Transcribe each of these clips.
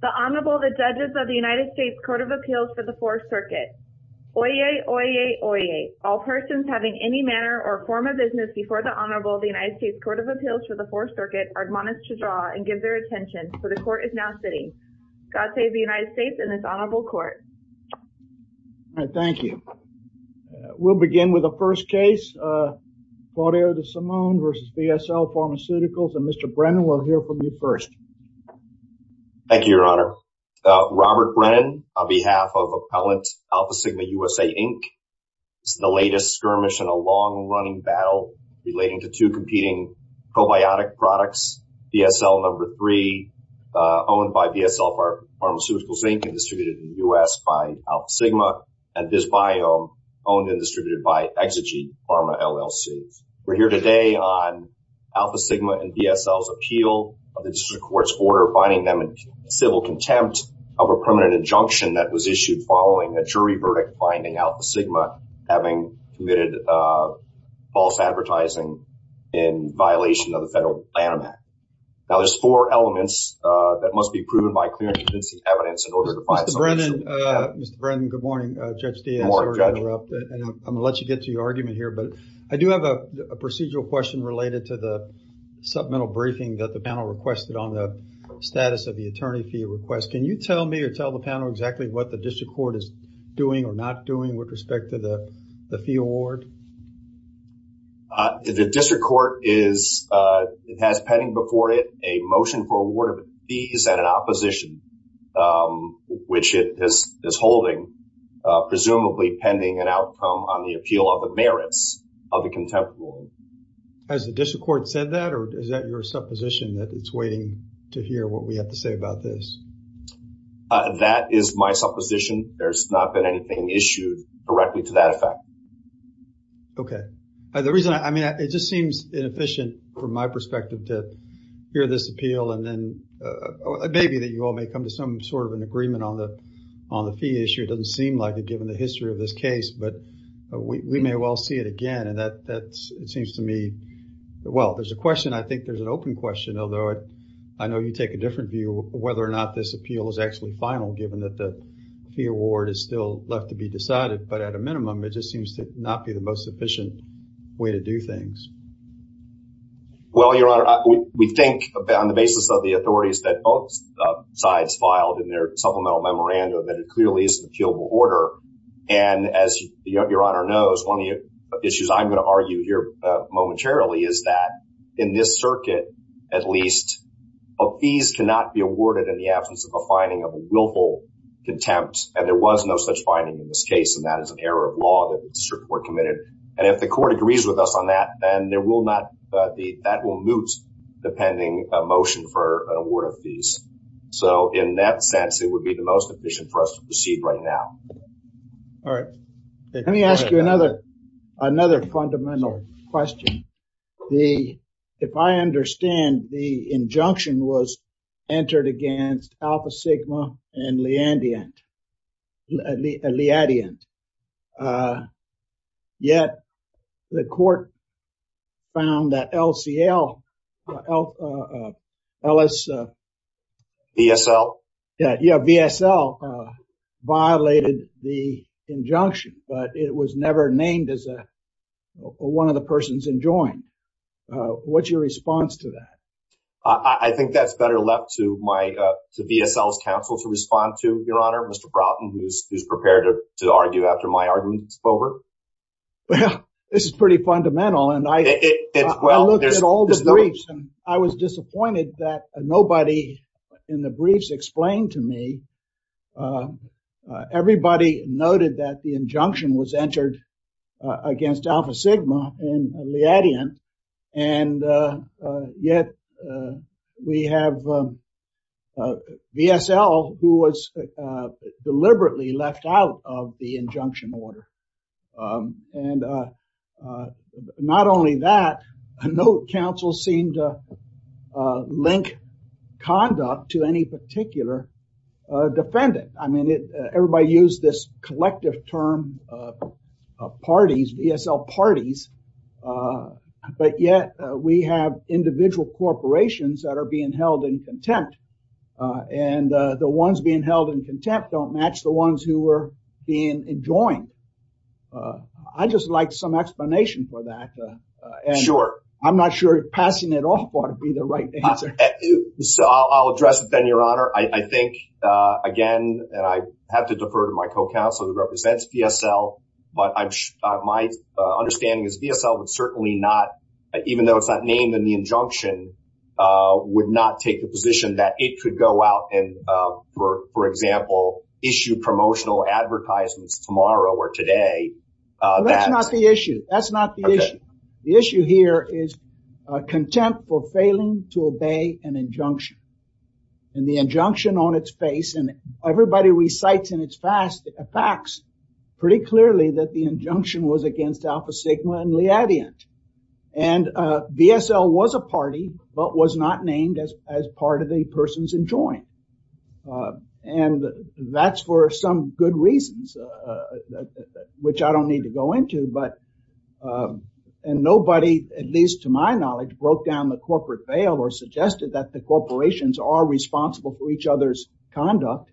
The Honorable, the Judges of the United States Court of Appeals for the Fourth Circuit. Oyez, oyez, oyez. All persons having any manner or form of business before the Honorable of the United States Court of Appeals for the Fourth Circuit are admonished to draw and give their attention, for the Court is now sitting. God save the United States and this Honorable Court. All right, thank you. We'll begin with the first case, Claudio De Simone v. VSL Pharmaceuticals, and Mr. Brennan will hear from you first. Thank you, Your Honor. Robert Brennan, on behalf of Appellant Alpha Sigma USA, Inc. This is the latest skirmish in a long-running battle relating to two competing probiotic products, VSL No. 3 owned by VSL Pharmaceuticals, Inc. and distributed in the U.S. by Alpha Sigma and this biome owned and distributed by Exigy Pharma LLC. We're here today on Alpha Sigma and VSL's appeal of the District Court's order finding them in civil contempt of a permanent injunction that was issued following a jury verdict finding Alpha Sigma having committed false advertising in violation of the Federal Plan of Act. Now, there's four elements that must be proven by clear and convincing evidence in order to find... Mr. Brennan, Mr. Brennan, good morning, Judge Diaz. Good morning, Judge. I'm going to let you get to your argument here, but I do have a procedural question related to the supplemental briefing that the panel requested on the status of the attorney fee request. Can you tell me or tell the panel exactly what the District Court is doing or not doing with respect to the fee award? The District Court is... It has pending before it a motion for award of fees at an opposition, which it is holding, presumably pending an outcome on the appeal of the merits of the contempt award. Has the District Court said that or is that your supposition that it's waiting to hear what we have to say about this? That is my supposition. There's not been anything issued directly to that effect. Okay. The reason I... I mean, it just seems inefficient from my perspective to hear this appeal and then maybe that you all may come to some sort of an agreement on the fee issue. It doesn't seem like it given the history of this case, but we may well see it again. And that's, it seems to me... Well, there's a question. I think there's an open question, although I know you take a different view whether or not this appeal is actually final, given that the fee award is still left to be decided. But at a minimum, it just seems to not be the most sufficient way to do things. Well, Your Honor, we think on the basis of the authorities that both sides filed in their supplemental memorandum that it clearly is an appealable order. And as Your Honor knows, one of the issues I'm going to argue here momentarily is that in this circuit, at least, a fees cannot be awarded in the absence of a finding of a willful contempt. And there was no such finding in this case. And that is an error of law that the District Court committed. And if the court agrees with us on that, then there will not... That will moot the pending motion for award of fees. So in that sense, it would be the most efficient for us to proceed right now. All right. Let me ask you another fundamental question. If I understand, the injunction was entered against Alpha Sigma and Leadeant. Yet, the court found that LCL and VSL violated the injunction, but it was never named as one of the persons enjoined. What's your response to that? I think that's better left to VSL's counsel to respond to, Your Honor, Mr. Broughton, who's prepared to argue after my argument is over. Well, this is pretty fundamental. And I looked at all the briefs and I was disappointed that nobody in the briefs explained to me. Everybody noted that the injunction was entered against Alpha Sigma and Leadeant. And yet, we have VSL who was deliberately left out of the and not only that, no counsel seemed to link conduct to any particular defendant. I mean, everybody used this collective term of parties, VSL parties. But yet, we have individual corporations that are being held in contempt. And the ones being held in contempt don't match the I'd just like some explanation for that. And I'm not sure passing it off ought to be the right answer. So I'll address it then, Your Honor. I think, again, and I have to defer to my co-counsel who represents VSL. But my understanding is VSL would certainly not, even though it's not named in the injunction, would not take the position that it could go out and, for example, issue promotional advertisements tomorrow or today. That's not the issue. That's not the issue. The issue here is contempt for failing to obey an injunction. And the injunction on its face and everybody recites in its facts pretty clearly that the injunction was against Alpha Sigma and Leadeant. And VSL was a party but was not named as part of the persons in joint. And that's for some good reasons, which I don't need to go into. But and nobody, at least to my knowledge, broke down the corporate veil or suggested that the corporations are responsible for each other's conduct.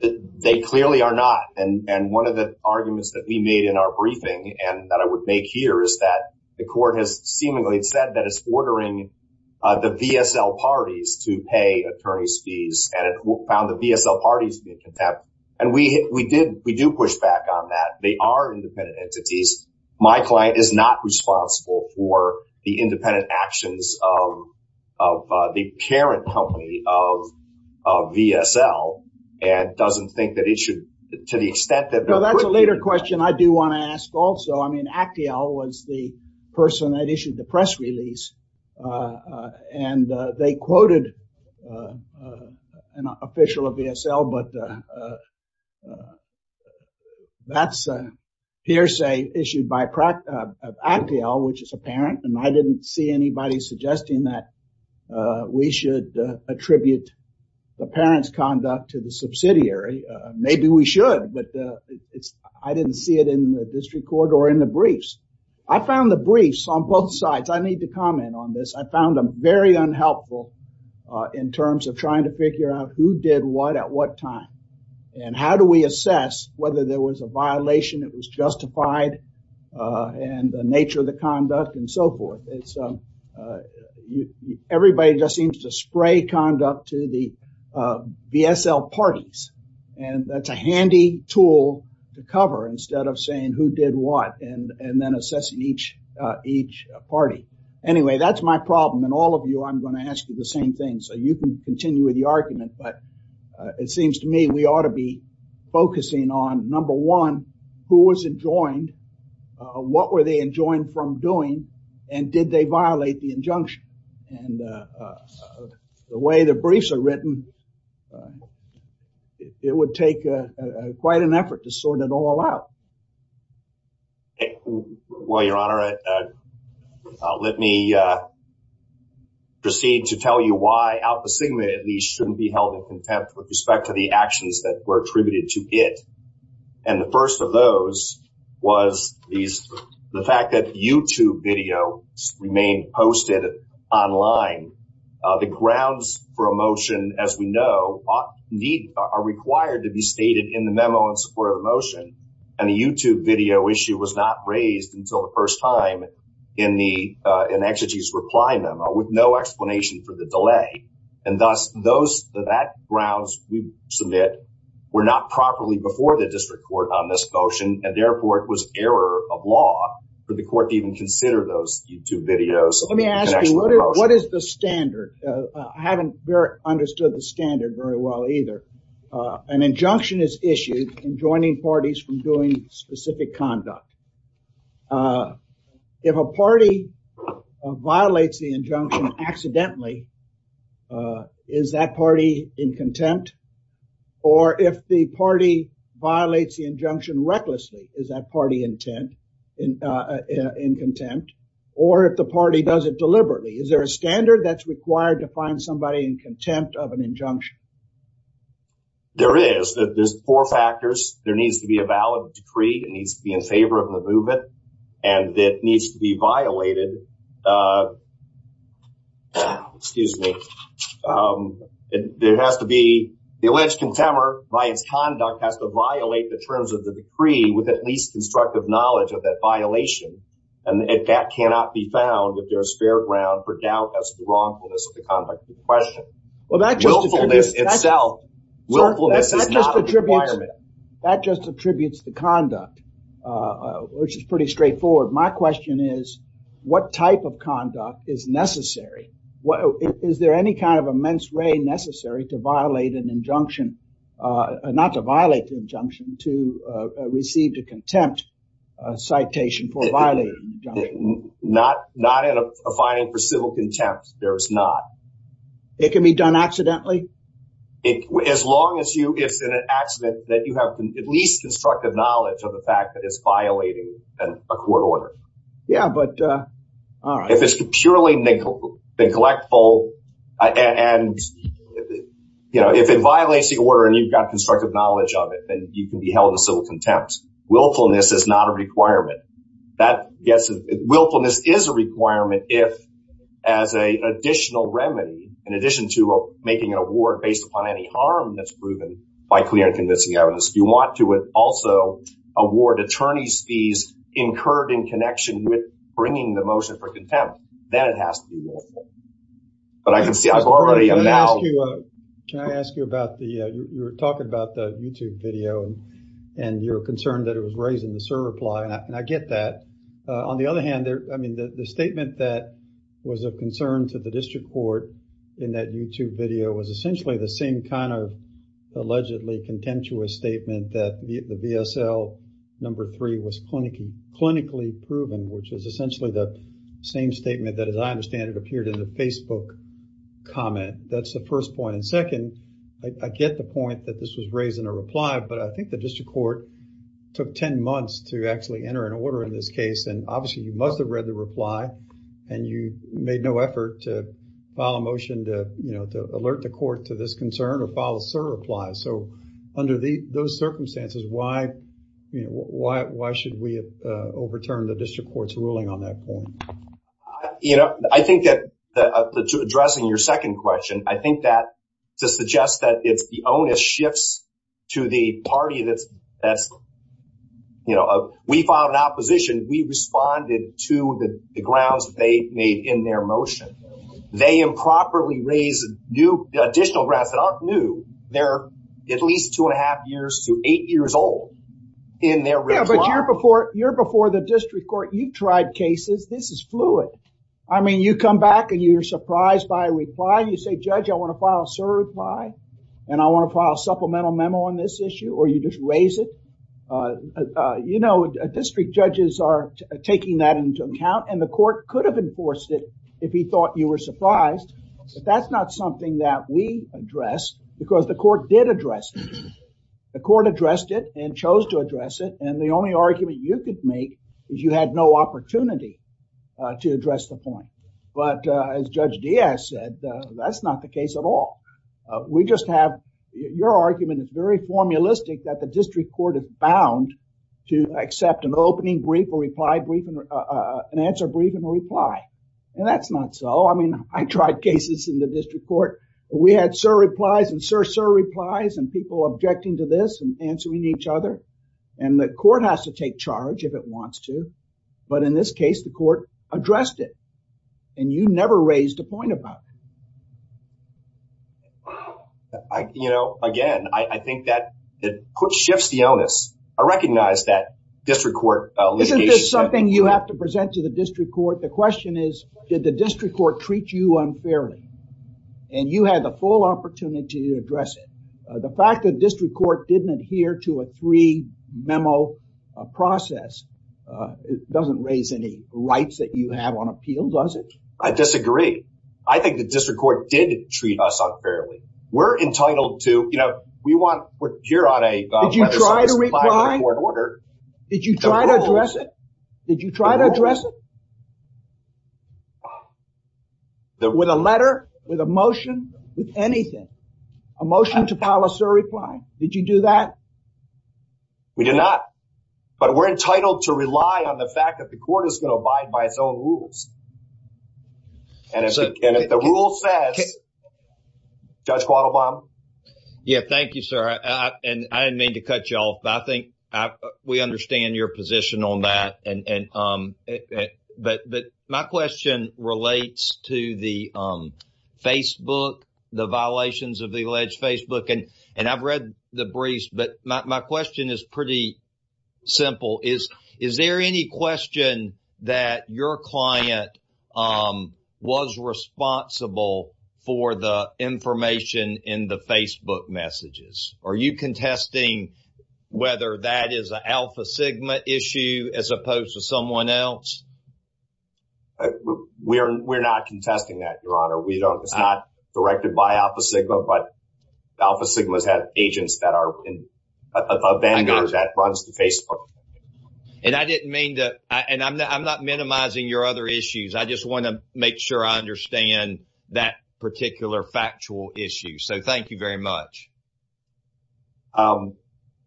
They clearly are not. And one of the arguments that we made in our briefing and that I would make here is that the court has seemingly said that it's ordering the VSL parties to pay attorneys' fees and it found the VSL parties to be contempt. And we do push back on that. They are independent entities. My client is not responsible for the independent actions of the current company of VSL and doesn't think that it should, to the extent that... No, that's a later question I do want to ask also. I mean, Actiel was the person that issued the press release and they quoted an official of VSL, but that's hearsay issued by Actiel, which is a parent. And I didn't see anybody suggesting that we should attribute the parent's conduct to the subsidiary. Maybe we should, but I didn't see it in the district court or in the I need to comment on this. I found them very unhelpful in terms of trying to figure out who did what at what time and how do we assess whether there was a violation that was justified and the nature of the conduct and so forth. Everybody just seems to spray conduct to the VSL parties. And that's a handy tool to cover instead of saying who did what and then assessing each party. Anyway, that's my problem. And all of you, I'm going to ask you the same thing. So, you can continue with the argument, but it seems to me we ought to be focusing on number one, who was enjoined? What were they enjoined from doing? And did they violate the injunction? And the way the briefs are written, it would take quite an effort to sort it all out. Okay. Well, Your Honor, let me proceed to tell you why Alpha Sigma, at least, shouldn't be held in contempt with respect to the actions that were attributed to it. And the first of those was the fact that YouTube video remained posted online. The grounds for a motion, as we know, are required to be stated in the memo in support of the motion. And the YouTube video issue was not raised until the first time in the exegetes reply memo with no explanation for the delay. And thus, those grounds we submit were not properly before the district court on this motion. And therefore, it was error of law for the court to even consider those YouTube videos. Let me ask you, what is the standard? I haven't understood the standard very well either. An injunction is issued in joining parties from doing specific conduct. If a party violates the injunction accidentally, is that party in contempt? Or if the party violates the injunction recklessly, is that party in contempt? Or if the party does it deliberately, is there a standard that's required to find somebody in contempt of an injunction? There is. There's four factors. There needs to be a valid decree. It needs to be in favor of the movement. And it needs to be violated. Excuse me. There has to be the alleged contemporary by its conduct has to violate the terms of the decree with at least constructive knowledge of that violation. And that cannot be found if there's fair ground for doubt as to wrongfulness of the conduct of the question. Willfulness itself is not a requirement. That just attributes the conduct, which is pretty straightforward. My question is, what type of conduct is necessary? Is there any kind of immense way necessary to violate an injunction, not to violate the injunction, to receive the contempt citation for violating? Not not in a filing for civil contempt. There's not. It can be done accidentally. As long as you it's an accident that you have at least constructive knowledge of the fact that it's violating a court order. Yeah, but if it's purely neglectful, and, you know, if it violates the order, and you've got constructive knowledge of it, then you can be held in civil contempt. Willfulness is not a requirement. That gets willfulness is a requirement if, as a additional remedy, in addition to making an award based upon any harm that's proven by clear and convincing evidence, you want to also award attorney's fees incurred in connection with bringing the motion for contempt, then it has to be willful. But I can see I've already amounted. Can I ask you about the, you were talking about the YouTube video, and you're concerned that it was raised in the server plot, and I get that. On the other hand, there, I mean, the statement that was of concern to the district court in that YouTube video was essentially the same kind of allegedly contemptuous statement that the VSL number three was clinically proven, which is essentially the same statement that, as I understand, it appeared in the Facebook comment. That's the first point. And second, I get the point that this was raised in a reply, but I think the district court took 10 months to actually enter an order in this case. And obviously, you must have read the reply, and you made no effort to file a motion to, you know, to alert the court to this concern or file a server reply. So, under those circumstances, why should we have overturned the district court's ruling on that point? You know, I think that, addressing your second question, I think that, to suggest that it's the onus shifts to the party that's, you know, we found an opposition, we responded to the grounds they made in their motion. They improperly raised new, additional grounds that aren't new. They're at least two and a half years to eight years old in their reply. Yeah, but you're before, you're before the district court. You've tried cases. This is fluid. I mean, you come back and you're surprised by a reply. You say, Judge, I want to file a server reply, and I want to file a supplemental memo on this issue, or you just raise it. You know, district judges are taking that into account, and the court could have enforced it if he thought you were surprised. But that's not something that we addressed, because the court did address it. The court addressed it and chose to address it, and the only argument you could make is you had no opportunity to address the point. But as Judge Diaz said, that's not the case at all. We just have, your argument is very formulistic that the district court is bound to accept an opening brief, a reply brief, an answer brief, and a reply. And that's not so. I mean, I tried cases in the district court. We had server replies and server replies and people objecting to this and answering each other, and the court has to take charge if it wants to. But in this case, the court addressed it, and you never raised a point about it. You know, again, I think that it shifts the onus. I recognize that district court litigation. This is something you have to present to the district court. The question is, did the district court treat you unfairly? And you had the full opportunity to address it. The fact that district court didn't adhere to a three-memo process doesn't raise any rights that you have on appeal, does it? I disagree. I think the district court did treat us unfairly. We're entitled to, you know, we want, we're here on a request. Did you try to address it? Did you try to address it? With a letter? With a motion? With anything? A motion to file a SIR reply? Did you do that? We did not. But we're entitled to rely on the fact that the court is going to abide by its own rules. And if the rule says, Judge Quattlebaum? Yeah, thank you, sir. And I didn't mean to cut you off, but I think we understand your position on that. But my question relates to the Facebook, the violations of the alleged Facebook. And I've read the briefs, but my question is pretty simple. Is there any question that your client was responsible for the information in the Facebook messages? Are you contesting whether that is an Alpha Sigma issue as opposed to someone else? We're not contesting that, Your Honor. We don't, it's not directed by Alpha Sigma, but Alpha Sigma has had agents that are vendors that runs the Facebook. And I didn't mean to, and I'm not minimizing your other issues. I just want to make sure I understand that particular factual issue. So, thank you very much.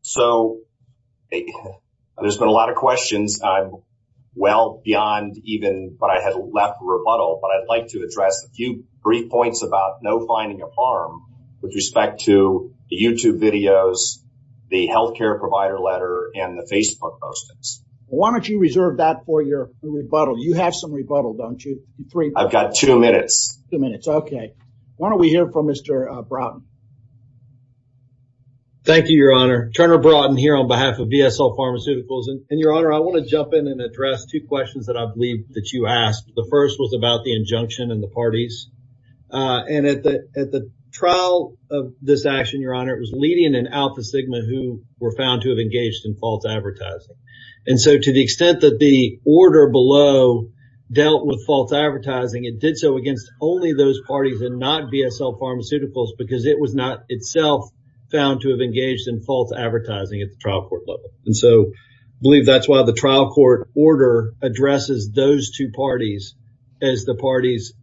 So, there's been a lot of questions. I'm well beyond even what I had left for rebuttal, but I'd like to address a few brief points about no finding of harm with respect to the YouTube videos, the healthcare provider letter, and the Facebook postings. Why don't you reserve that for your rebuttal? You have some rebuttal, don't you? I've got two minutes. Two minutes, okay. Why don't we hear from Mr. Broughton? Thank you, Your Honor. Turner Broughton here on behalf of VSO Pharmaceuticals. And Your Honor, I want to jump in and address two questions that I believe that you asked. The first was about the injunction and the parties. And at the trial of this action, Your Honor, it was leading an Alpha Sigma who were found to have engaged in false advertising. And so, to the extent that the order below dealt with false advertising, it did so against only those parties and not VSO Pharmaceuticals because it was not itself found to have engaged in false advertising at the trial court level. And so, I believe that's why the trial court order addresses those two parties as the parties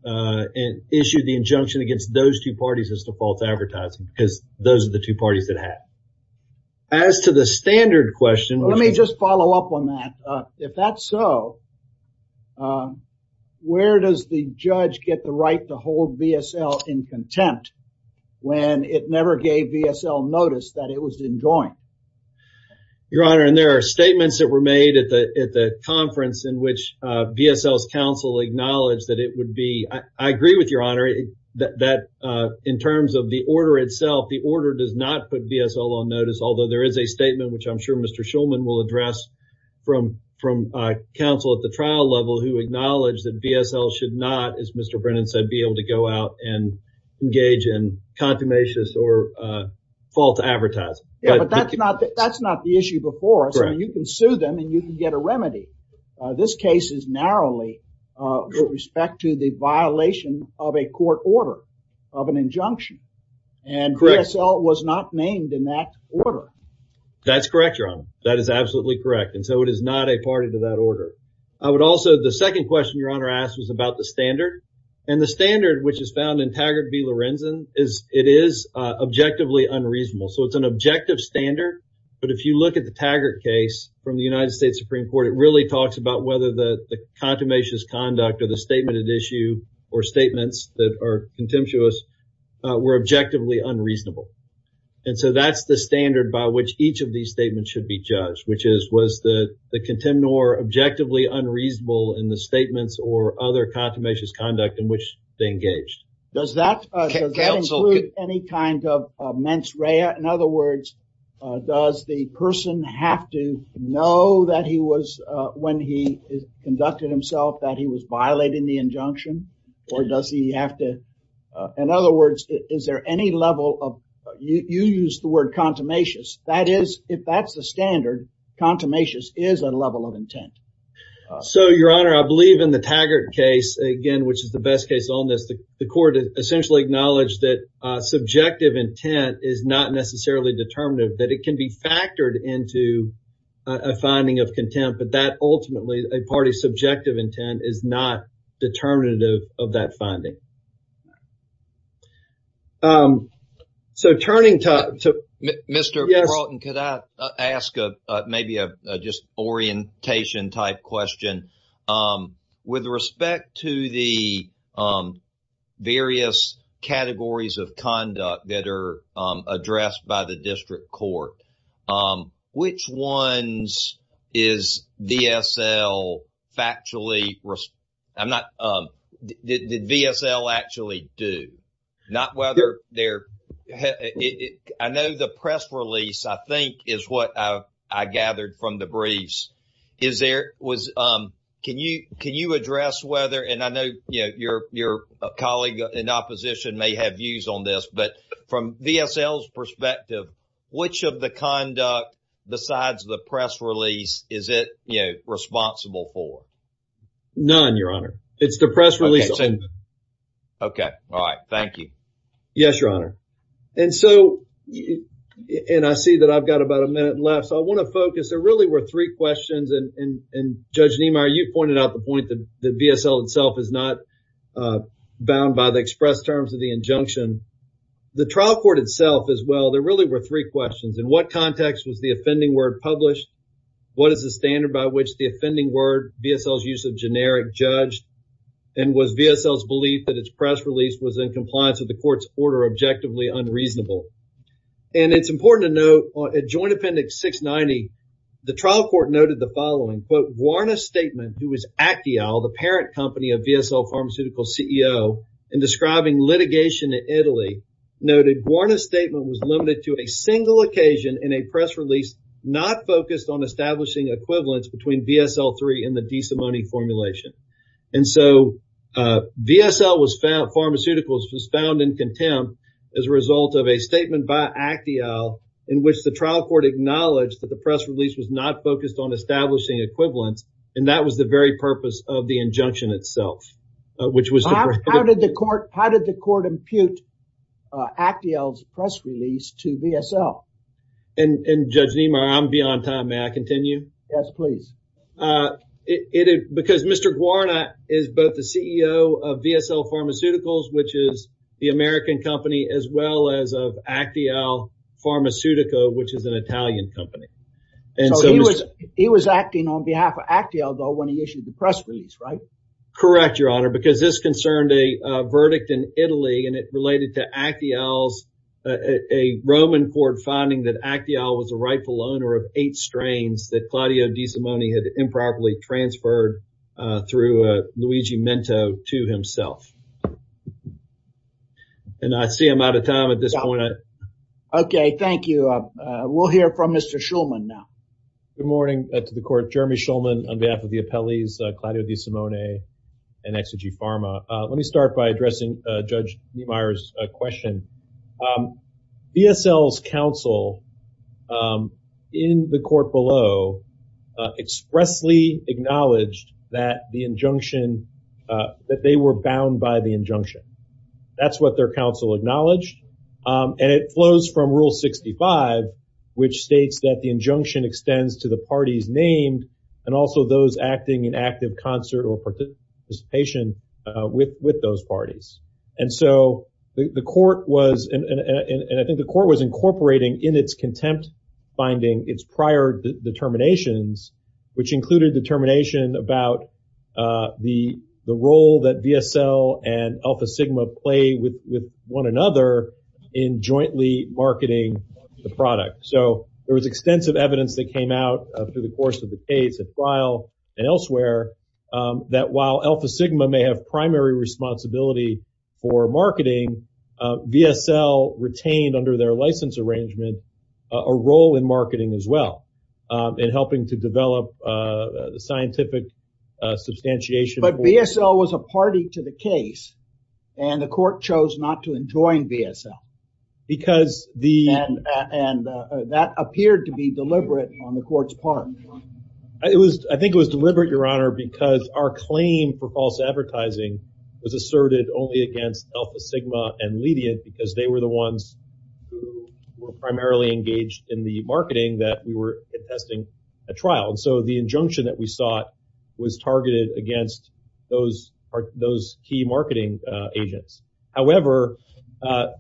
issued the injunction against those two parties as the false advertising because those are the two parties that have. As to the standard question... Let me just follow up on that. If that's so, where does the judge get the right to hold VSO in contempt when it never gave VSO notice that it was enjoined? Your Honor, and there are statements that were made at the conference in which VSO's counsel acknowledged that it would be... I agree with Your Honor that in terms of the order itself, the order does not put VSO on notice, although there is a statement, which I'm sure Mr. Shulman will address from counsel at the trial level, who acknowledged that VSO should not, as Mr. Brennan said, be able to go out and engage in them and you can get a remedy. This case is narrowly with respect to the violation of a court order of an injunction and VSO was not named in that order. That's correct, Your Honor. That is absolutely correct. And so, it is not a party to that order. I would also... The second question Your Honor asked was about the standard and the standard which is found in Taggart v Lorenzen is it is objectively unreasonable. So, it's an objective standard, but if you look at the Taggart case from the United States Supreme Court, it really talks about whether the contumacious conduct or the statement at issue or statements that are contemptuous were objectively unreasonable. And so, that's the standard by which each of these statements should be judged, which is was the contempt nor objectively unreasonable in the statements or other contumacious conduct in which they engaged. Does that include any kind of mens rea? In other words, does the person have to know that he was, when he conducted himself, that he was violating the injunction or does he have to... In other words, is there any level of... You used the word contumacious. That is, if that's the standard, contumacious is a level of intent. So, Your Honor, I believe in the Taggart case, again, which is the best case on this, the court essentially acknowledged that necessarily determinative, that it can be factored into a finding of contempt, but that ultimately a party's subjective intent is not determinative of that finding. So, turning to... Mr. Broughton, could I ask maybe a just orientation type question? With respect to the various categories of conduct that are addressed by the district court, which ones is VSL factually... I'm not... Did VSL actually do? Not whether they're... I know the press release, I think, is what I gathered from the briefs. Can you address whether, and I know your colleague in opposition may have views on this, but from VSL's perspective, which of the conduct besides the press release is it responsible for? None, Your Honor. It's the press release. Okay. All right. Thank you. Yes, Your Honor. And so, and I see that I've got about a minute left, so I want to focus. There really were three questions, and Judge Niemeyer, you pointed out the point that VSL itself is not bound by the express terms of the injunction. The trial court itself as well, there really were three questions. In what context was the offending word published? What is the standard by which the offending word, VSL's use of generic, judged? And was VSL's its press release was in compliance with the court's order objectively unreasonable? And it's important to note, at Joint Appendix 690, the trial court noted the following, quote, Guarna Statement, who was Actial, the parent company of VSL Pharmaceutical's CEO, in describing litigation in Italy, noted, Guarna Statement was limited to a single occasion in a press release not focused on establishing equivalence between VSL-3 and the decimony formulation. And so, VSL Pharmaceuticals was found in contempt as a result of a statement by Actial, in which the trial court acknowledged that the press release was not focused on establishing equivalence, and that was the very purpose of the injunction itself, which was- How did the court impute Actial's press release to VSL? And Judge Niemeyer, I'm beyond time, may I continue? Yes, please. It, because Mr. Guarna is both the CEO of VSL Pharmaceuticals, which is the American company, as well as of Actial Pharmaceutical, which is an Italian company. And so he was, he was acting on behalf of Actial, though, when he issued the press release, right? Correct, Your Honor, because this concerned a verdict in Italy, and it related to Actial's, a Roman court finding that Actial was a rightful owner of eight strains that Claudio had improperly transferred through Luigi Mento to himself. And I see I'm out of time at this point. Okay, thank you. We'll hear from Mr. Schulman now. Good morning to the court. Jeremy Schulman on behalf of the appellees, Claudio DiSimone and Exigy Pharma. Let me start by addressing Judge Niemeyer's question. VSL's counsel in the court below expressly acknowledged that the injunction, that they were bound by the injunction. That's what their counsel acknowledged. And it flows from Rule 65, which states that the injunction extends to the parties named, and also those acting in active concert or participation with those parties. And so, the court was, and I think the court was incorporating in its contempt finding its prior determinations, which included determination about the role that VSL and Alpha Sigma play with one another in jointly marketing the product. So, there was extensive evidence that came out through the course of the case at trial and elsewhere that while Alpha Sigma may have for marketing, VSL retained under their license arrangement a role in marketing as well, in helping to develop scientific substantiation. But VSL was a party to the case, and the court chose not to enjoin VSL. Because the... And that appeared to be deliberate on the court's part. It was, I think it was deliberate, Your Honor, because our claim for false advertising was asserted only against Alpha Sigma and Ledient, because they were the ones who were primarily engaged in the marketing that we were testing at trial. So, the injunction that we sought was targeted against those key marketing agents. However,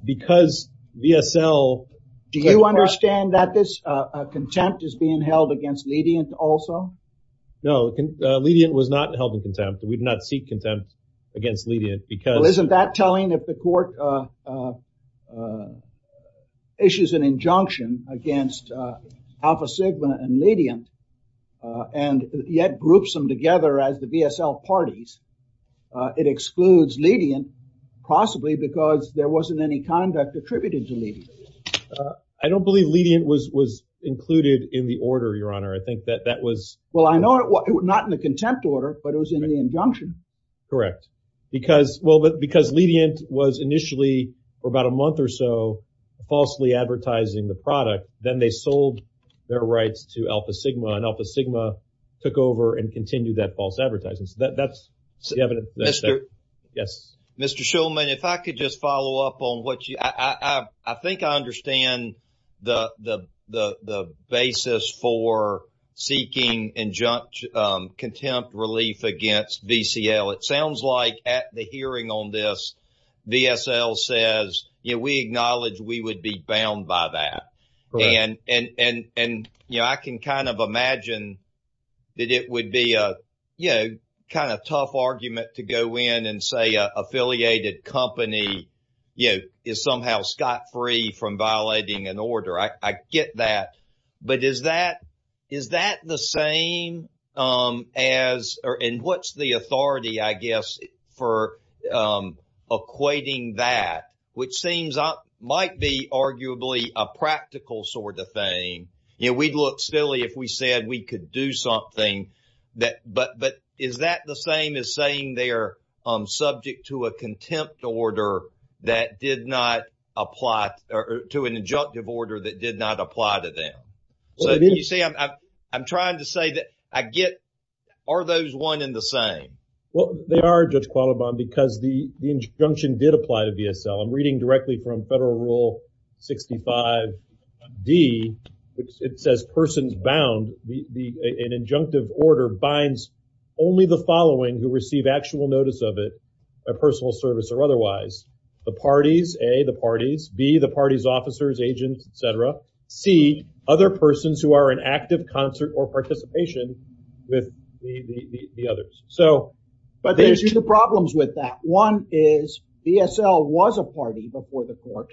because VSL... Do you understand that this contempt is being held against Ledient also? No, Ledient was not held in contempt. We do not seek contempt against Ledient because... Well, isn't that telling if the court issues an injunction against Alpha Sigma and Ledient, and yet groups them together as the VSL parties, it excludes Ledient, possibly because there wasn't any conduct attributed to Ledient. I don't believe Ledient was included in the order, Your Honor. I think that that was not in the contempt order, but it was in the injunction. Correct. Because, well, because Ledient was initially, for about a month or so, falsely advertising the product. Then they sold their rights to Alpha Sigma, and Alpha Sigma took over and continued that false advertising. So, that's the evidence. Yes. Mr. Shulman, if I could just follow up on what you... I think I understand the basis for seeking contempt relief against VCL. It sounds like at the hearing on this, VSL says, yeah, we acknowledge we would be bound by that. Correct. And, you know, I can kind of imagine that it would be a, you know, kind of tough argument to go in and say affiliated company, you know, is somehow scot-free from violating an order. I get that. But is that the same as... and what's the authority, I guess, for equating that, which seems might be arguably a practical sort of thing. You know, we'd look silly if we said we could do something. But is that the same as saying they're subject to a contempt order that did not apply to an injunctive order that did not apply to them? So, you see, I'm trying to say that I get... are those one and the same? Well, they are, Judge Qualibon, because the injunction did apply to VSL. I'm reading directly from Federal Rule 65D. It says persons bound, an injunctive order binds only the following who the parties, A, the parties, B, the party's officers, agents, etc., C, other persons who are in active concert or participation with the others. So... But there's two problems with that. One is VSL was a party before the court.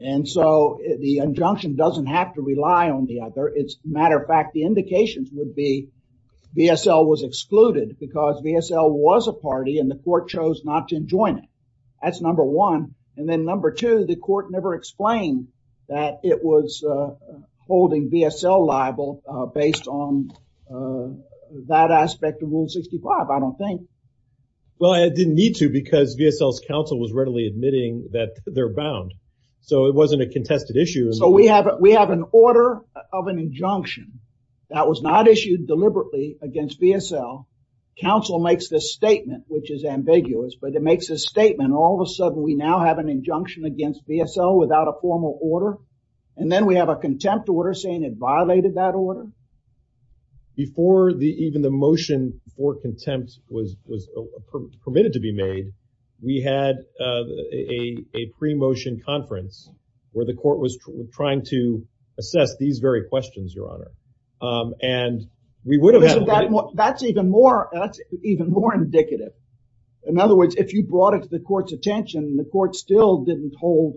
And so the injunction doesn't have to rely on the other. As a matter of fact, the indications would be VSL was excluded because VSL was a party and the court chose not to join it. That's number one. And then number two, the court never explained that it was holding VSL liable based on that aspect of Rule 65, I don't think. Well, it didn't need to because VSL's counsel was readily admitting that they're bound. So it wasn't a contested issue. So we have an order of an injunction that was not issued deliberately against VSL counsel makes this statement, which is ambiguous, but it makes a statement. All of a sudden we now have an injunction against VSL without a formal order. And then we have a contempt order saying it violated that order. Before the, even the motion for contempt was permitted to be made, we had a pre-motion conference where the court was trying to assess these very questions, Your Honor. And we would have had. That's even more, that's even more indicative. In other words, if you brought it to the court's attention, the court still didn't hold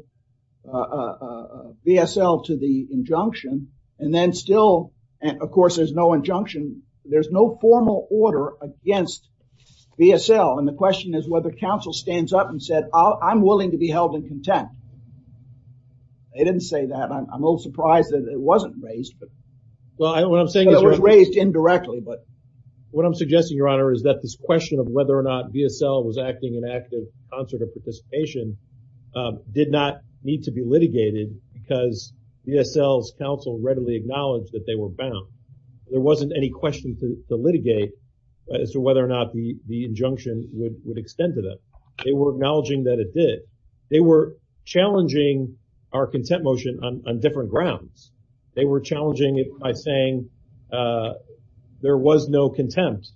VSL to the injunction. And then still, of course, there's no injunction. There's no formal order against VSL. And the question is whether counsel stands up and said, I'm willing to be held in contempt. They didn't say that. I'm a little surprised that it wasn't raised, but. Well, what I'm saying is. It was raised indirectly, but. What I'm suggesting, Your Honor, is that this question of whether or not VSL was acting in active concert of participation did not need to be litigated because VSL's counsel readily acknowledged that they were bound. There wasn't any question to litigate as to whether or not the injunction would extend to them. They were acknowledging that it did. They were challenging our contempt motion on different grounds. They were challenging it by saying there was no contempt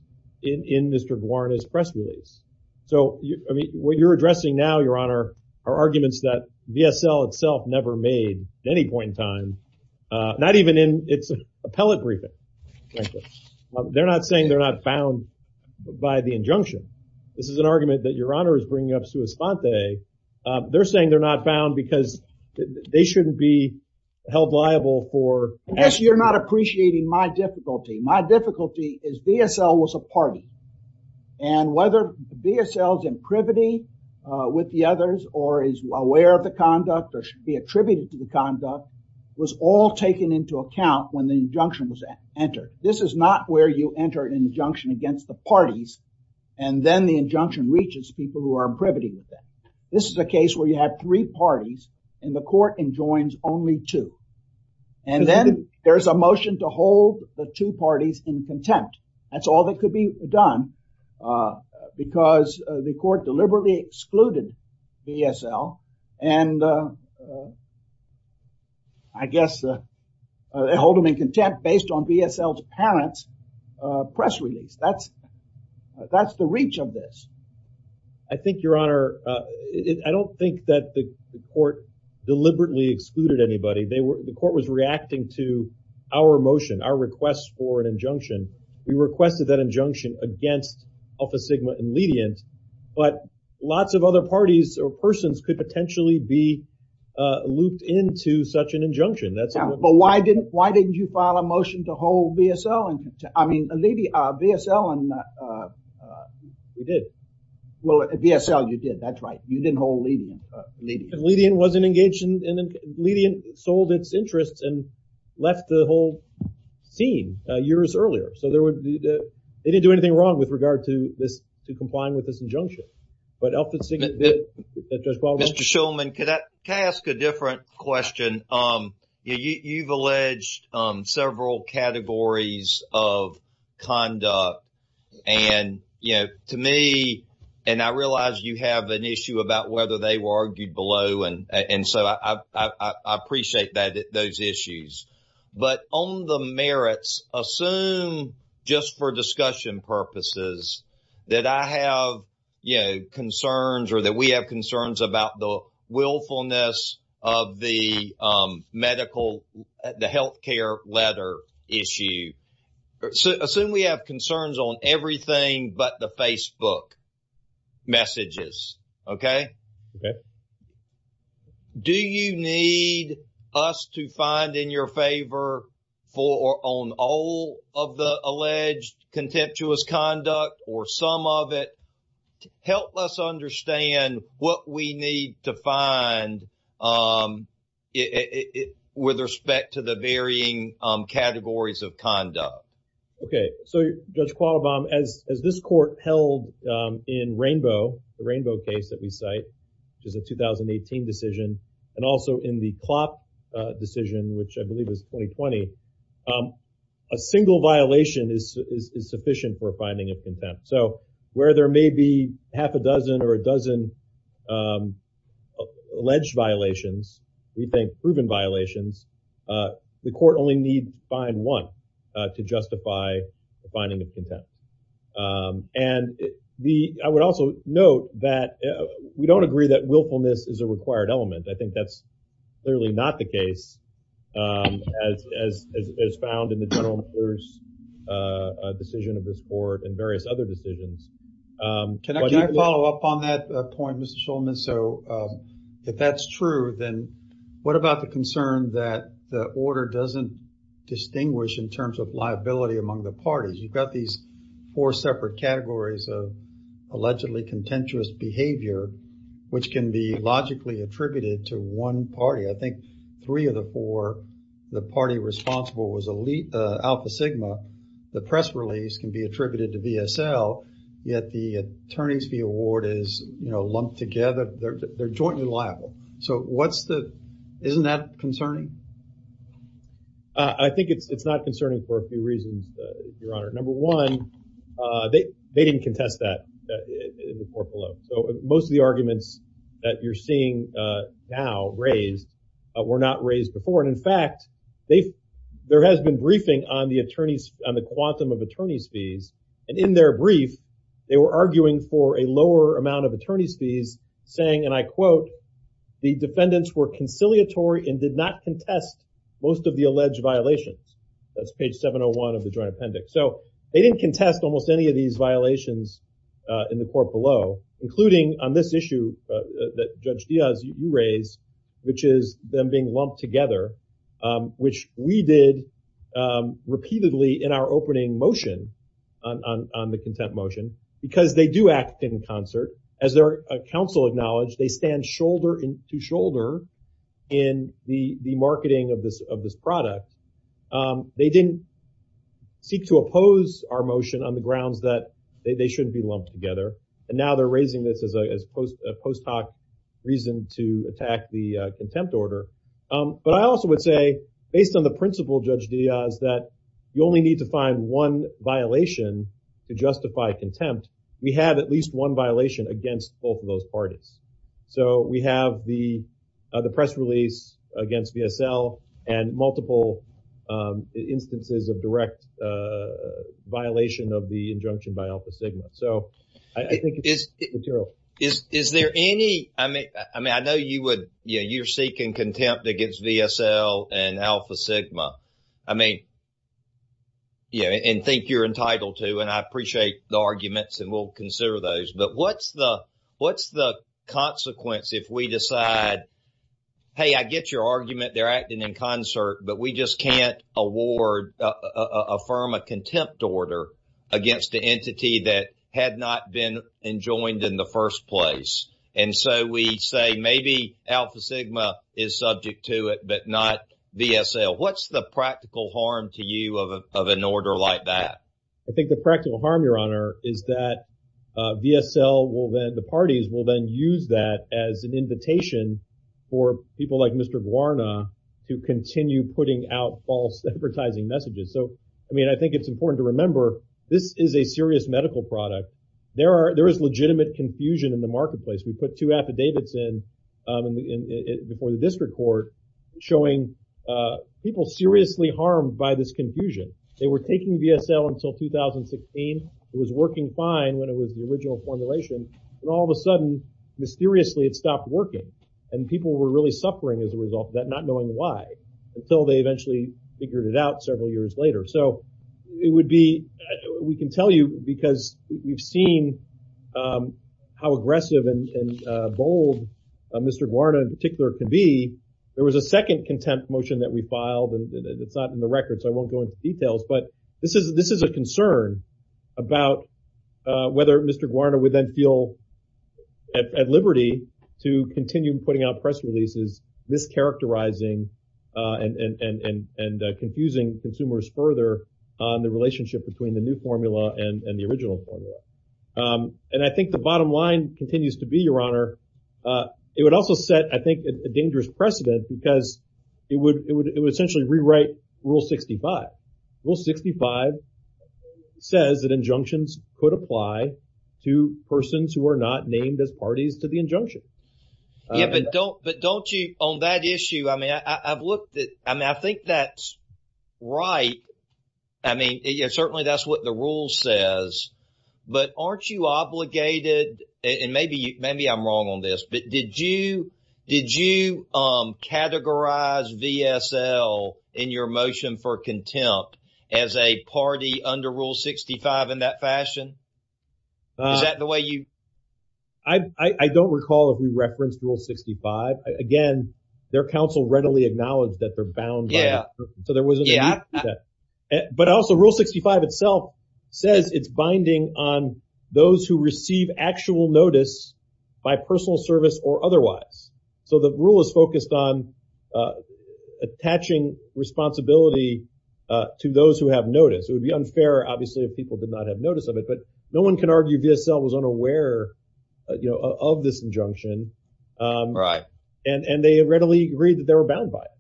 in Mr. Guarna's press release. So, I mean, what you're addressing now, Your Honor, are arguments that VSL itself never made at any point in time, not even in its appellate briefing. They're not saying they're not bound by the injunction. This is an argument that Your Honor is bringing up sua sponte. They're saying they're not bound because they shouldn't be held liable for. Yes, you're not appreciating my difficulty. My difficulty is VSL was a party. And whether VSL's imprivity with the others or is aware of conduct or should be attributed to the conduct was all taken into account when the injunction was entered. This is not where you enter an injunction against the parties and then the injunction reaches people who are privity with that. This is a case where you have three parties and the court enjoins only two. And then there's a motion to hold the two parties in contempt. That's all that could be done because the court deliberately excluded VSL and I guess they hold them in contempt based on VSL's parents' press release. That's the reach of this. I think, Your Honor, I don't think that the court deliberately excluded anybody. The court was requested that injunction against Alpha Sigma and Lydian, but lots of other parties or persons could potentially be looped into such an injunction. But why didn't you file a motion to hold VSL in contempt? I mean, VSL and... We did. Well, VSL, you did. That's right. You didn't hold Lydian. Lydian wasn't engaged in... Lydian sold its interests and left the whole scene years earlier. So, they didn't do anything wrong with regard to this to complying with this injunction. But Alpha Sigma did. Judge Baldwin? Mr. Shulman, can I ask a different question? You've alleged several categories of conduct and, you know, to me, and I realize you have an issue about whether they were argued below and so I appreciate those issues. But on the merits, assume, just for discussion purposes, that I have, you know, concerns or that we have concerns about the willfulness of the medical, the health care letter issue. Assume we have concerns on everything but the Facebook messages, okay? Okay. Do you need us to find in your favor on all of the alleged contemptuous conduct or some of it? Help us understand what we need to find with respect to the varying categories of conduct. Okay. So, Judge Qualabam, as this court held in Rainbow, the Rainbow case that we cite, which is a 2018 decision, and also in the Klopp decision, which I believe is 2020, a single violation is sufficient for finding of contempt. So, where there may be half a dozen or to justify the finding of contempt. And the, I would also note that we don't agree that willfulness is a required element. I think that's clearly not the case as found in the general decision of this court and various other decisions. Can I follow up on that point, Mr. Shulman? So, if that's true, then what about the concern that the order doesn't distinguish in terms of liability among the parties? You've got these four separate categories of allegedly contemptuous behavior, which can be logically attributed to one party. I think three of the four, the party responsible was Alpha Sigma. The press release can be attributed to VSL, yet the attorneys fee award is lumped together. They're jointly liable. So, what's the, isn't that concerning? I think it's not concerning for a few reasons, Your Honor. Number one, they didn't contest that in the court below. So, most of the arguments that you're seeing now raised were not raised before. And in fact, they've, there has been briefing on the attorneys, on the quantum of attorneys fees. And in their brief, they were and did not contest most of the alleged violations. That's page 701 of the joint appendix. So, they didn't contest almost any of these violations in the court below, including on this issue that Judge Diaz, you raised, which is them being lumped together, which we did repeatedly in our opening motion on the contempt motion, because they do act in the marketing of this product. They didn't seek to oppose our motion on the grounds that they shouldn't be lumped together. And now they're raising this as a post hoc reason to attack the contempt order. But I also would say, based on the principle, Judge Diaz, that you only need to find one violation to justify contempt. We have at least one violation against both of those parties. So, we have the press release against VSL and multiple instances of direct violation of the injunction by Alpha Sigma. So, I think it's material. Is there any, I mean, I know you would, you know, you're seeking contempt against VSL and Alpha Sigma. I mean, you know, and think you're entitled to, and I appreciate the arguments, and we'll consider those. But what's the consequence if we decide, hey, I get your argument, they're acting in concert, but we just can't award, affirm a contempt order against the entity that had not been enjoined in the first place. And so, we say maybe Alpha Sigma is subject to it, but not VSL. What's the practical harm to you of an order like that? I think the practical harm, Your Honor, is that VSL will then, the parties will then use that as an invitation for people like Mr. Guarna to continue putting out false advertising messages. So, I mean, I think it's important to remember this is a serious medical product. There are, there is legitimate confusion in the marketplace. We put two affidavits in before the district court showing people seriously harmed by this confusion. They were taking VSL until 2016. It was working fine when it was the original formulation, and all of a sudden, mysteriously, it stopped working. And people were really suffering as a result of that, not knowing why, until they eventually figured it out several years later. So, it would be, we can tell you because you've seen how aggressive and bold Mr. Guarna in particular can be, there was a second contempt motion that we filed, and it's not in the record, so I won't go into details, but this is a concern about whether Mr. Guarna would then feel at liberty to continue putting out press releases, mischaracterizing and confusing consumers further on the relationship between the new formula and the original formula. And I think the bottom line continues to be, Your Honor, it would also set, I think, a dangerous precedent because it would essentially rewrite Rule 65. Rule 65 says that injunctions could apply to persons who are not named as parties to the injunction. Yeah, but don't you, on that issue, I mean, I've looked at, I mean, I think that's right. I mean, certainly that's what the rule says, but aren't you obligated, and maybe I'm wrong on this, but did you categorize VSL in your motion for contempt as a party under Rule 65 in that fashion? Is that the way you? I don't recall if we referenced Rule 65. Again, their counsel readily acknowledged that they're bound by that, so there wasn't a need for that. But also, Rule 65 itself says it's binding on those who receive actual notice by personal service or otherwise. So the rule is focused on attaching responsibility to those who have notice. It would be unfair, obviously, if people did not have notice of it, but no one can argue VSL was unaware, you know, of this injunction, and they readily agreed that they were bound by it.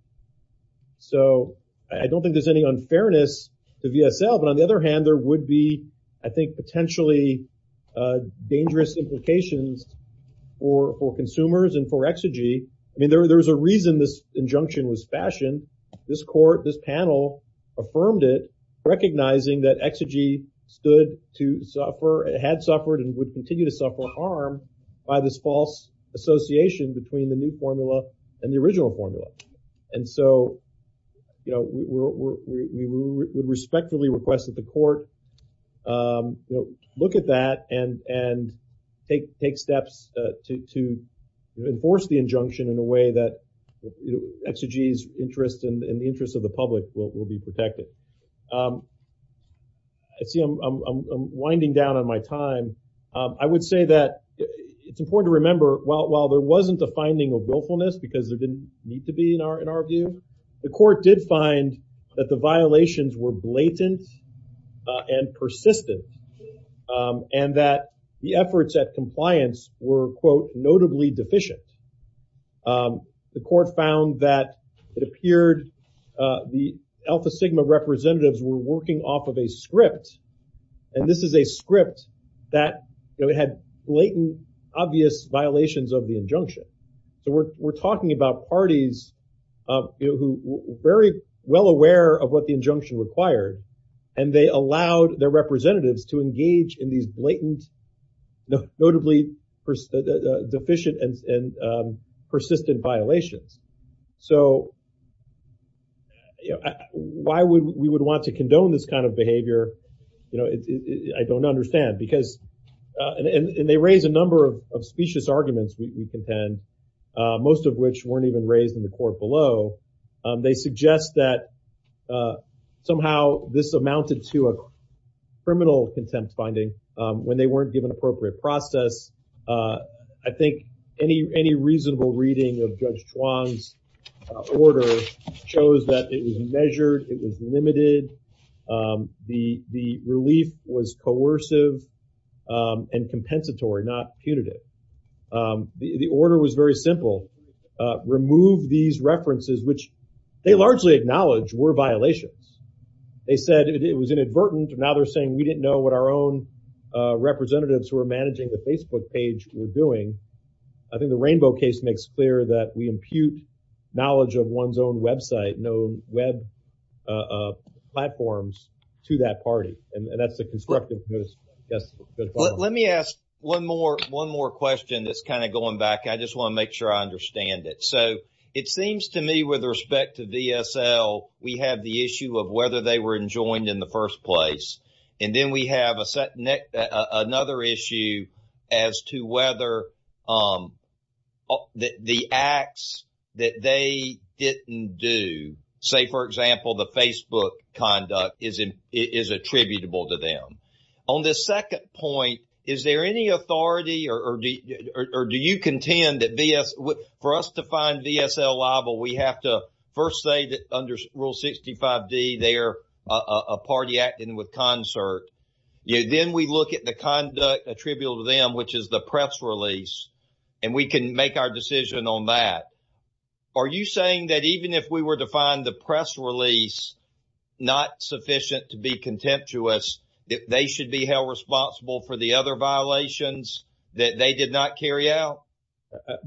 So I don't think there's any unfairness to VSL, but on the other hand, there would be, I think, potentially dangerous implications for consumers and for exegee. I mean, there was a reason this injunction was fashioned. This court, this panel affirmed it, recognizing that exegee stood to suffer, had suffered, and would continue to suffer harm by this false association between the new formula and the original formula. And so, you know, we would respectfully request that the court, you know, look at that and take steps to enforce the injunction in a way that exegee's interest and the interest of the public will be protected. I see I'm winding down on my time. I would say that it's important to remember, while there wasn't a finding of willfulness because there didn't need to be in our view, the court did find that the violations were blatant and persistent, and that the efforts at compliance were, quote, notably deficient. The court found that it appeared the Alpha Sigma representatives were working off of a script, and this is a script that, you know, it had blatant, obvious violations of the injunction. So we're talking about parties of, you know, who were very well aware of what the injunction required, and they allowed their representatives to engage in these blatant, notably deficient, and persistent violations. So, you know, why we would want to condone this kind of behavior, you know, I don't understand because, and they raise a number of specious arguments we have in the court below, they suggest that somehow this amounted to a criminal contempt finding when they weren't given appropriate process. I think any reasonable reading of Judge Chuang's order shows that it was measured, it was limited, the relief was coercive and which they largely acknowledge were violations. They said it was inadvertent, and now they're saying we didn't know what our own representatives who were managing the Facebook page were doing. I think the Rainbow case makes clear that we impute knowledge of one's own website, known web platforms, to that party, and that's the constructive. Let me ask one more question that's kind of going back. I just want to make sure I understand it. So it seems to me with respect to VSL, we have the issue of whether they were enjoined in the first place, and then we have another issue as to whether the acts that they didn't do, say for example the Facebook conduct, is attributable to them. On the second point, is there any authority or do you contend that for us to find VSL liable, we have to first say that under Rule 65d they are a party acting with concert. Then we look at the conduct attributable to them, which is the press release, and we can make our decision on that. Are you saying that even if we were to find the press release not sufficient to be contemptuous, they should be held responsible for the other violations that they did not carry out?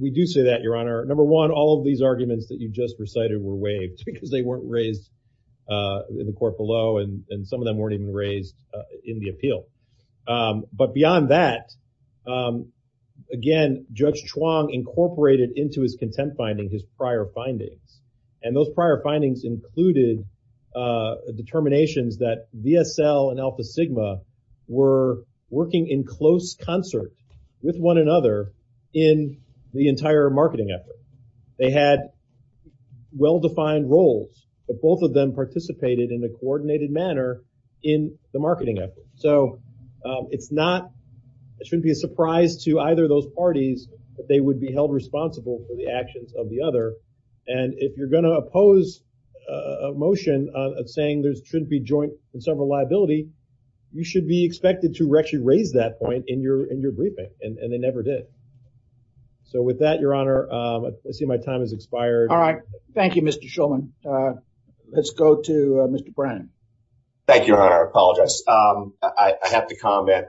We do say that, Your Honor. Number one, all of these arguments that you just recited were waived because they weren't raised in the court below, and some of them weren't even raised in the appeal. But beyond that, again, Judge Chuang incorporated into his contempt findings his prior findings, and those prior findings included determinations that VSL and Alpha Sigma were working in close concert with one another in the entire marketing effort. They had well-defined roles, but both of them participated in a coordinated manner in the marketing effort. So it's not, it shouldn't be a surprise to either those parties that they would be held responsible for the actions of the other, and if you're going to oppose a motion saying there shouldn't be joint and several liability, you should be expected to actually raise that point in your briefing, and they never did. So with that, Your Honor, I see my time has expired. All right. Thank you, Mr. Shulman. Let's go to Mr. Brannon. Thank you, Your Honor. I apologize. I have to comment.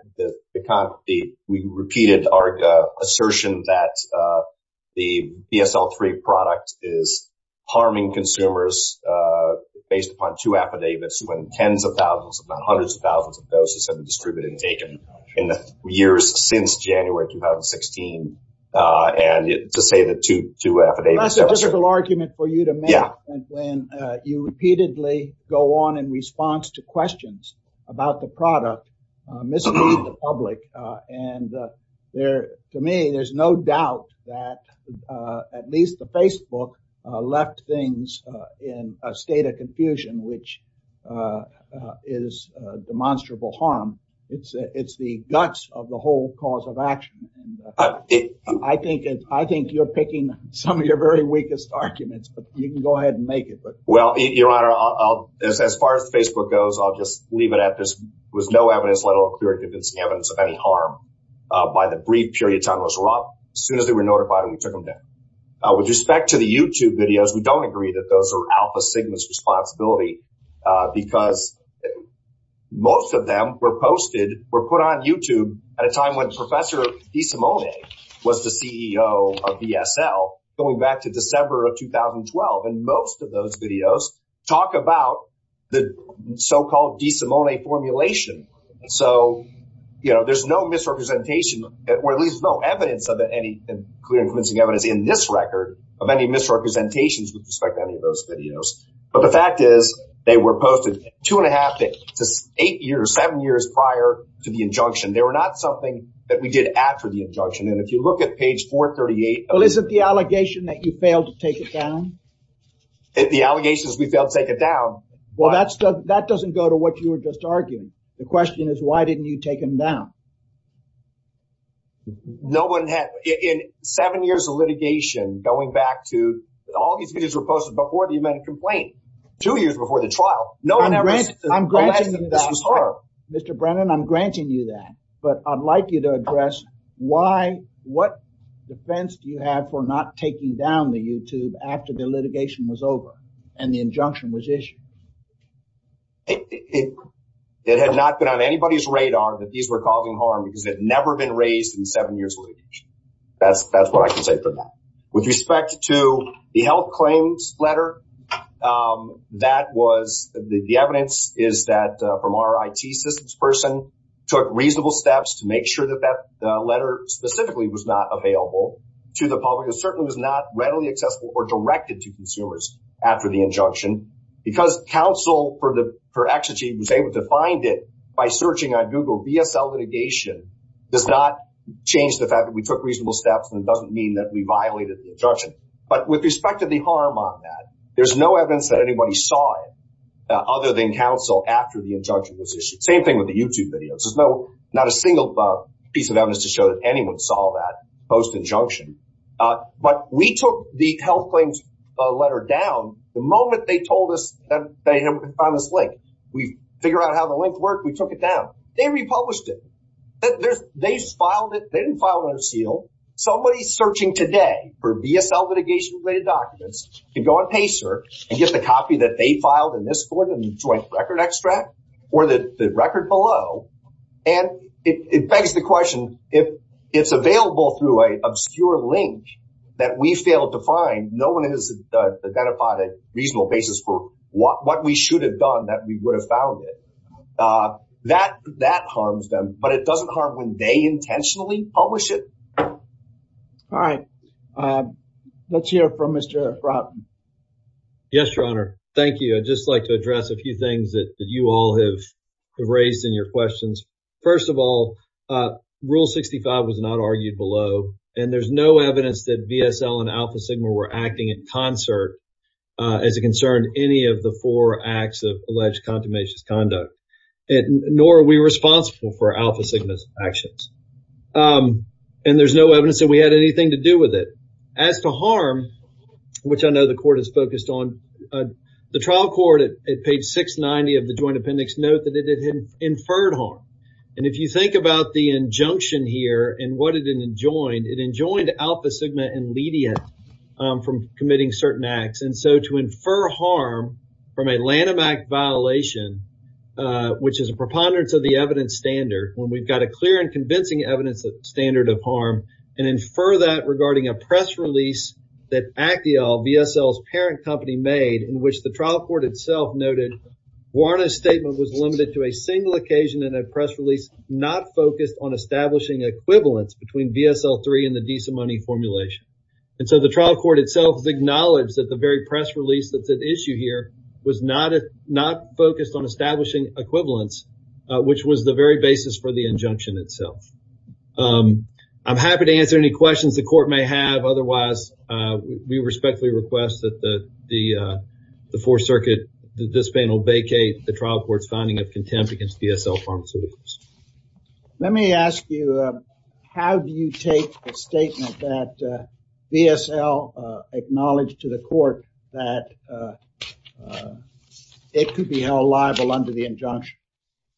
We repeated our assertion that the VSL-3 product is harming consumers based upon two affidavits when tens of thousands, if not hundreds of thousands of doses have been distributed and taken in the years since January 2016, and to say that two affidavits... That's a difficult argument for you to make when you repeatedly go on in response to questions about the product misleading the public, and to me, there's no doubt that at least the Facebook left things in a state of confusion, which is demonstrable harm. It's the guts of the whole cause of action, and I think you're picking some of your very weakest arguments, but you can go ahead and make it. Well, Your Honor, as far as Facebook goes, I'll just leave it at this. There was no evidence, convincing evidence of any harm by the brief period of time it was brought up. As soon as they were notified, we took them down. With respect to the YouTube videos, we don't agree that those are Alpha Sigma's responsibility because most of them were posted, were put on YouTube at a time when Professor DeSimone was the CEO of VSL going back to December of 2012, and most of those videos talk about the so-called DeSimone formulation, so there's no misrepresentation, or at least no evidence of any clear and convincing evidence in this record of any misrepresentations with respect to any of those videos, but the fact is they were posted two and a half to eight years, seven years prior to the injunction. They were not something that we did after the injunction, and if you look at page 438... Well, is it the allegation that you the allegations we failed to take it down? Well, that doesn't go to what you were just arguing. The question is, why didn't you take them down? No one had, in seven years of litigation, going back to, all these videos were posted before the event of complaint, two years before the trial. No one ever said unless this was her. Mr. Brennan, I'm granting you that, but I'd like you to address why, what defense do you have for not taking down the YouTube after the litigation was over and the injunction was issued? It had not been on anybody's radar that these were causing harm because they'd never been raised in seven years of litigation. That's what I can say for that. With respect to the health claims letter, the evidence is that from our IT systems person took reasonable steps to make sure that that letter specifically was not available to the public. It certainly was not readily accessible or directed to consumers after the injunction because counsel, per exergy, was able to find it by searching on Google. VSL litigation does not change the fact that we took reasonable steps and it doesn't mean that we violated the injunction. But with respect to the harm on that, there's no evidence that anybody saw it other than counsel after the injunction was issued. Same thing with the YouTube videos. Not a single piece of evidence to show that anyone saw that post-injunction. But we took the health claims letter down the moment they told us that they found this link. We figured out how the link worked. We took it down. They republished it. They filed it. They didn't file it under seal. Somebody searching today for VSL litigation-related documents can go on Pacer and get the copy that they filed in this court in the joint record extract or the record below. And it begs the question, if it's available through an obscure link that we failed to find, no one has identified a reasonable basis for what we should have done that we would have found it. That harms them. But it doesn't harm when they intentionally publish it. All right. Let's hear from Mr. Frotton. Yes, Your Honor. Thank you. I'd just like address a few things that you all have raised in your questions. First of all, Rule 65 was not argued below. And there's no evidence that VSL and Alpha Sigma were acting in concert as it concerned any of the four acts of alleged contumacious conduct. Nor are we responsible for Alpha Sigma's actions. And there's no evidence that we had anything to do with it. As to harm, which I know the court is focused on, the trial court at page 690 of the Joint Appendix note that it had inferred harm. And if you think about the injunction here and what it enjoined, it enjoined Alpha Sigma inledient from committing certain acts. And so to infer harm from a Lanham Act violation, which is a preponderance of the evidence standard, when we've got a clear and convincing evidence standard of harm, and infer that regarding a press release that Acquial, VSL's parent company, made in which the trial court itself noted Warner's statement was limited to a single occasion in a press release not focused on establishing equivalence between VSL 3 and the De Simone formulation. And so the trial court itself acknowledged that the very press release that's at issue here was not focused on establishing equivalence, which was the very basis for the injunction itself. I'm happy to answer any questions the court may have. Otherwise, we respectfully request that the Fourth Circuit, the discipline, will vacate the trial court's finding of contempt against VSL pharmaceuticals. Let me ask you, how do you take the statement that VSL acknowledged to the court that it could be held liable under the injunction?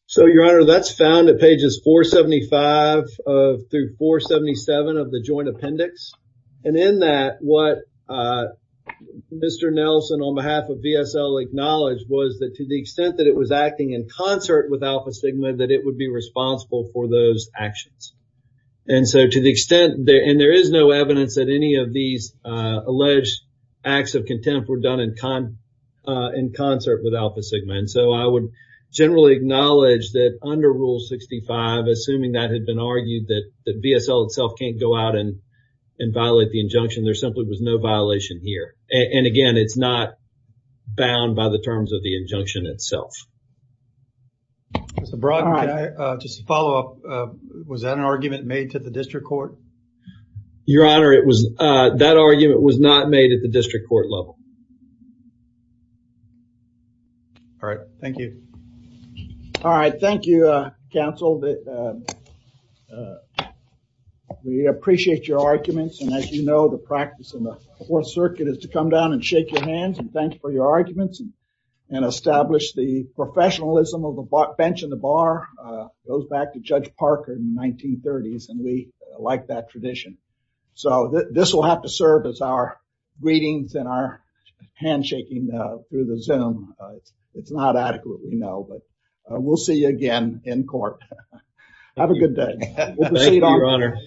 So, your honor, that's found at pages 475 of through 477 of the joint appendix. And in that, what Mr. Nelson, on behalf of VSL, acknowledged was that to the extent that it was acting in concert with Alpha Sigma, that it would be responsible for those actions. And so to the extent, and there is no evidence that any of these alleged acts of contempt were done in concert with Alpha Sigma. And so I would generally acknowledge that under Rule 65, assuming that had been argued, that VSL itself can't go out and violate the injunction. There simply was no violation here. And again, it's not bound by the terms of the injunction itself. Mr. Brock, just to follow up, was that an argument made to the district court? Your honor, that argument was not made at the district court level. All right. Thank you. All right. Thank you, counsel. We appreciate your arguments. And as you know, the practice in the Fourth Circuit is to come down and shake your hands and thank for your arguments and establish the professionalism of the bench and the bar goes back to Judge Parker in the 1930s. And we like that tradition. So this will have to serve as our greetings and our handshaking through the Zoom. It's not adequate, we know, but we'll see you again in court. Have a good day. Thank you, your honor.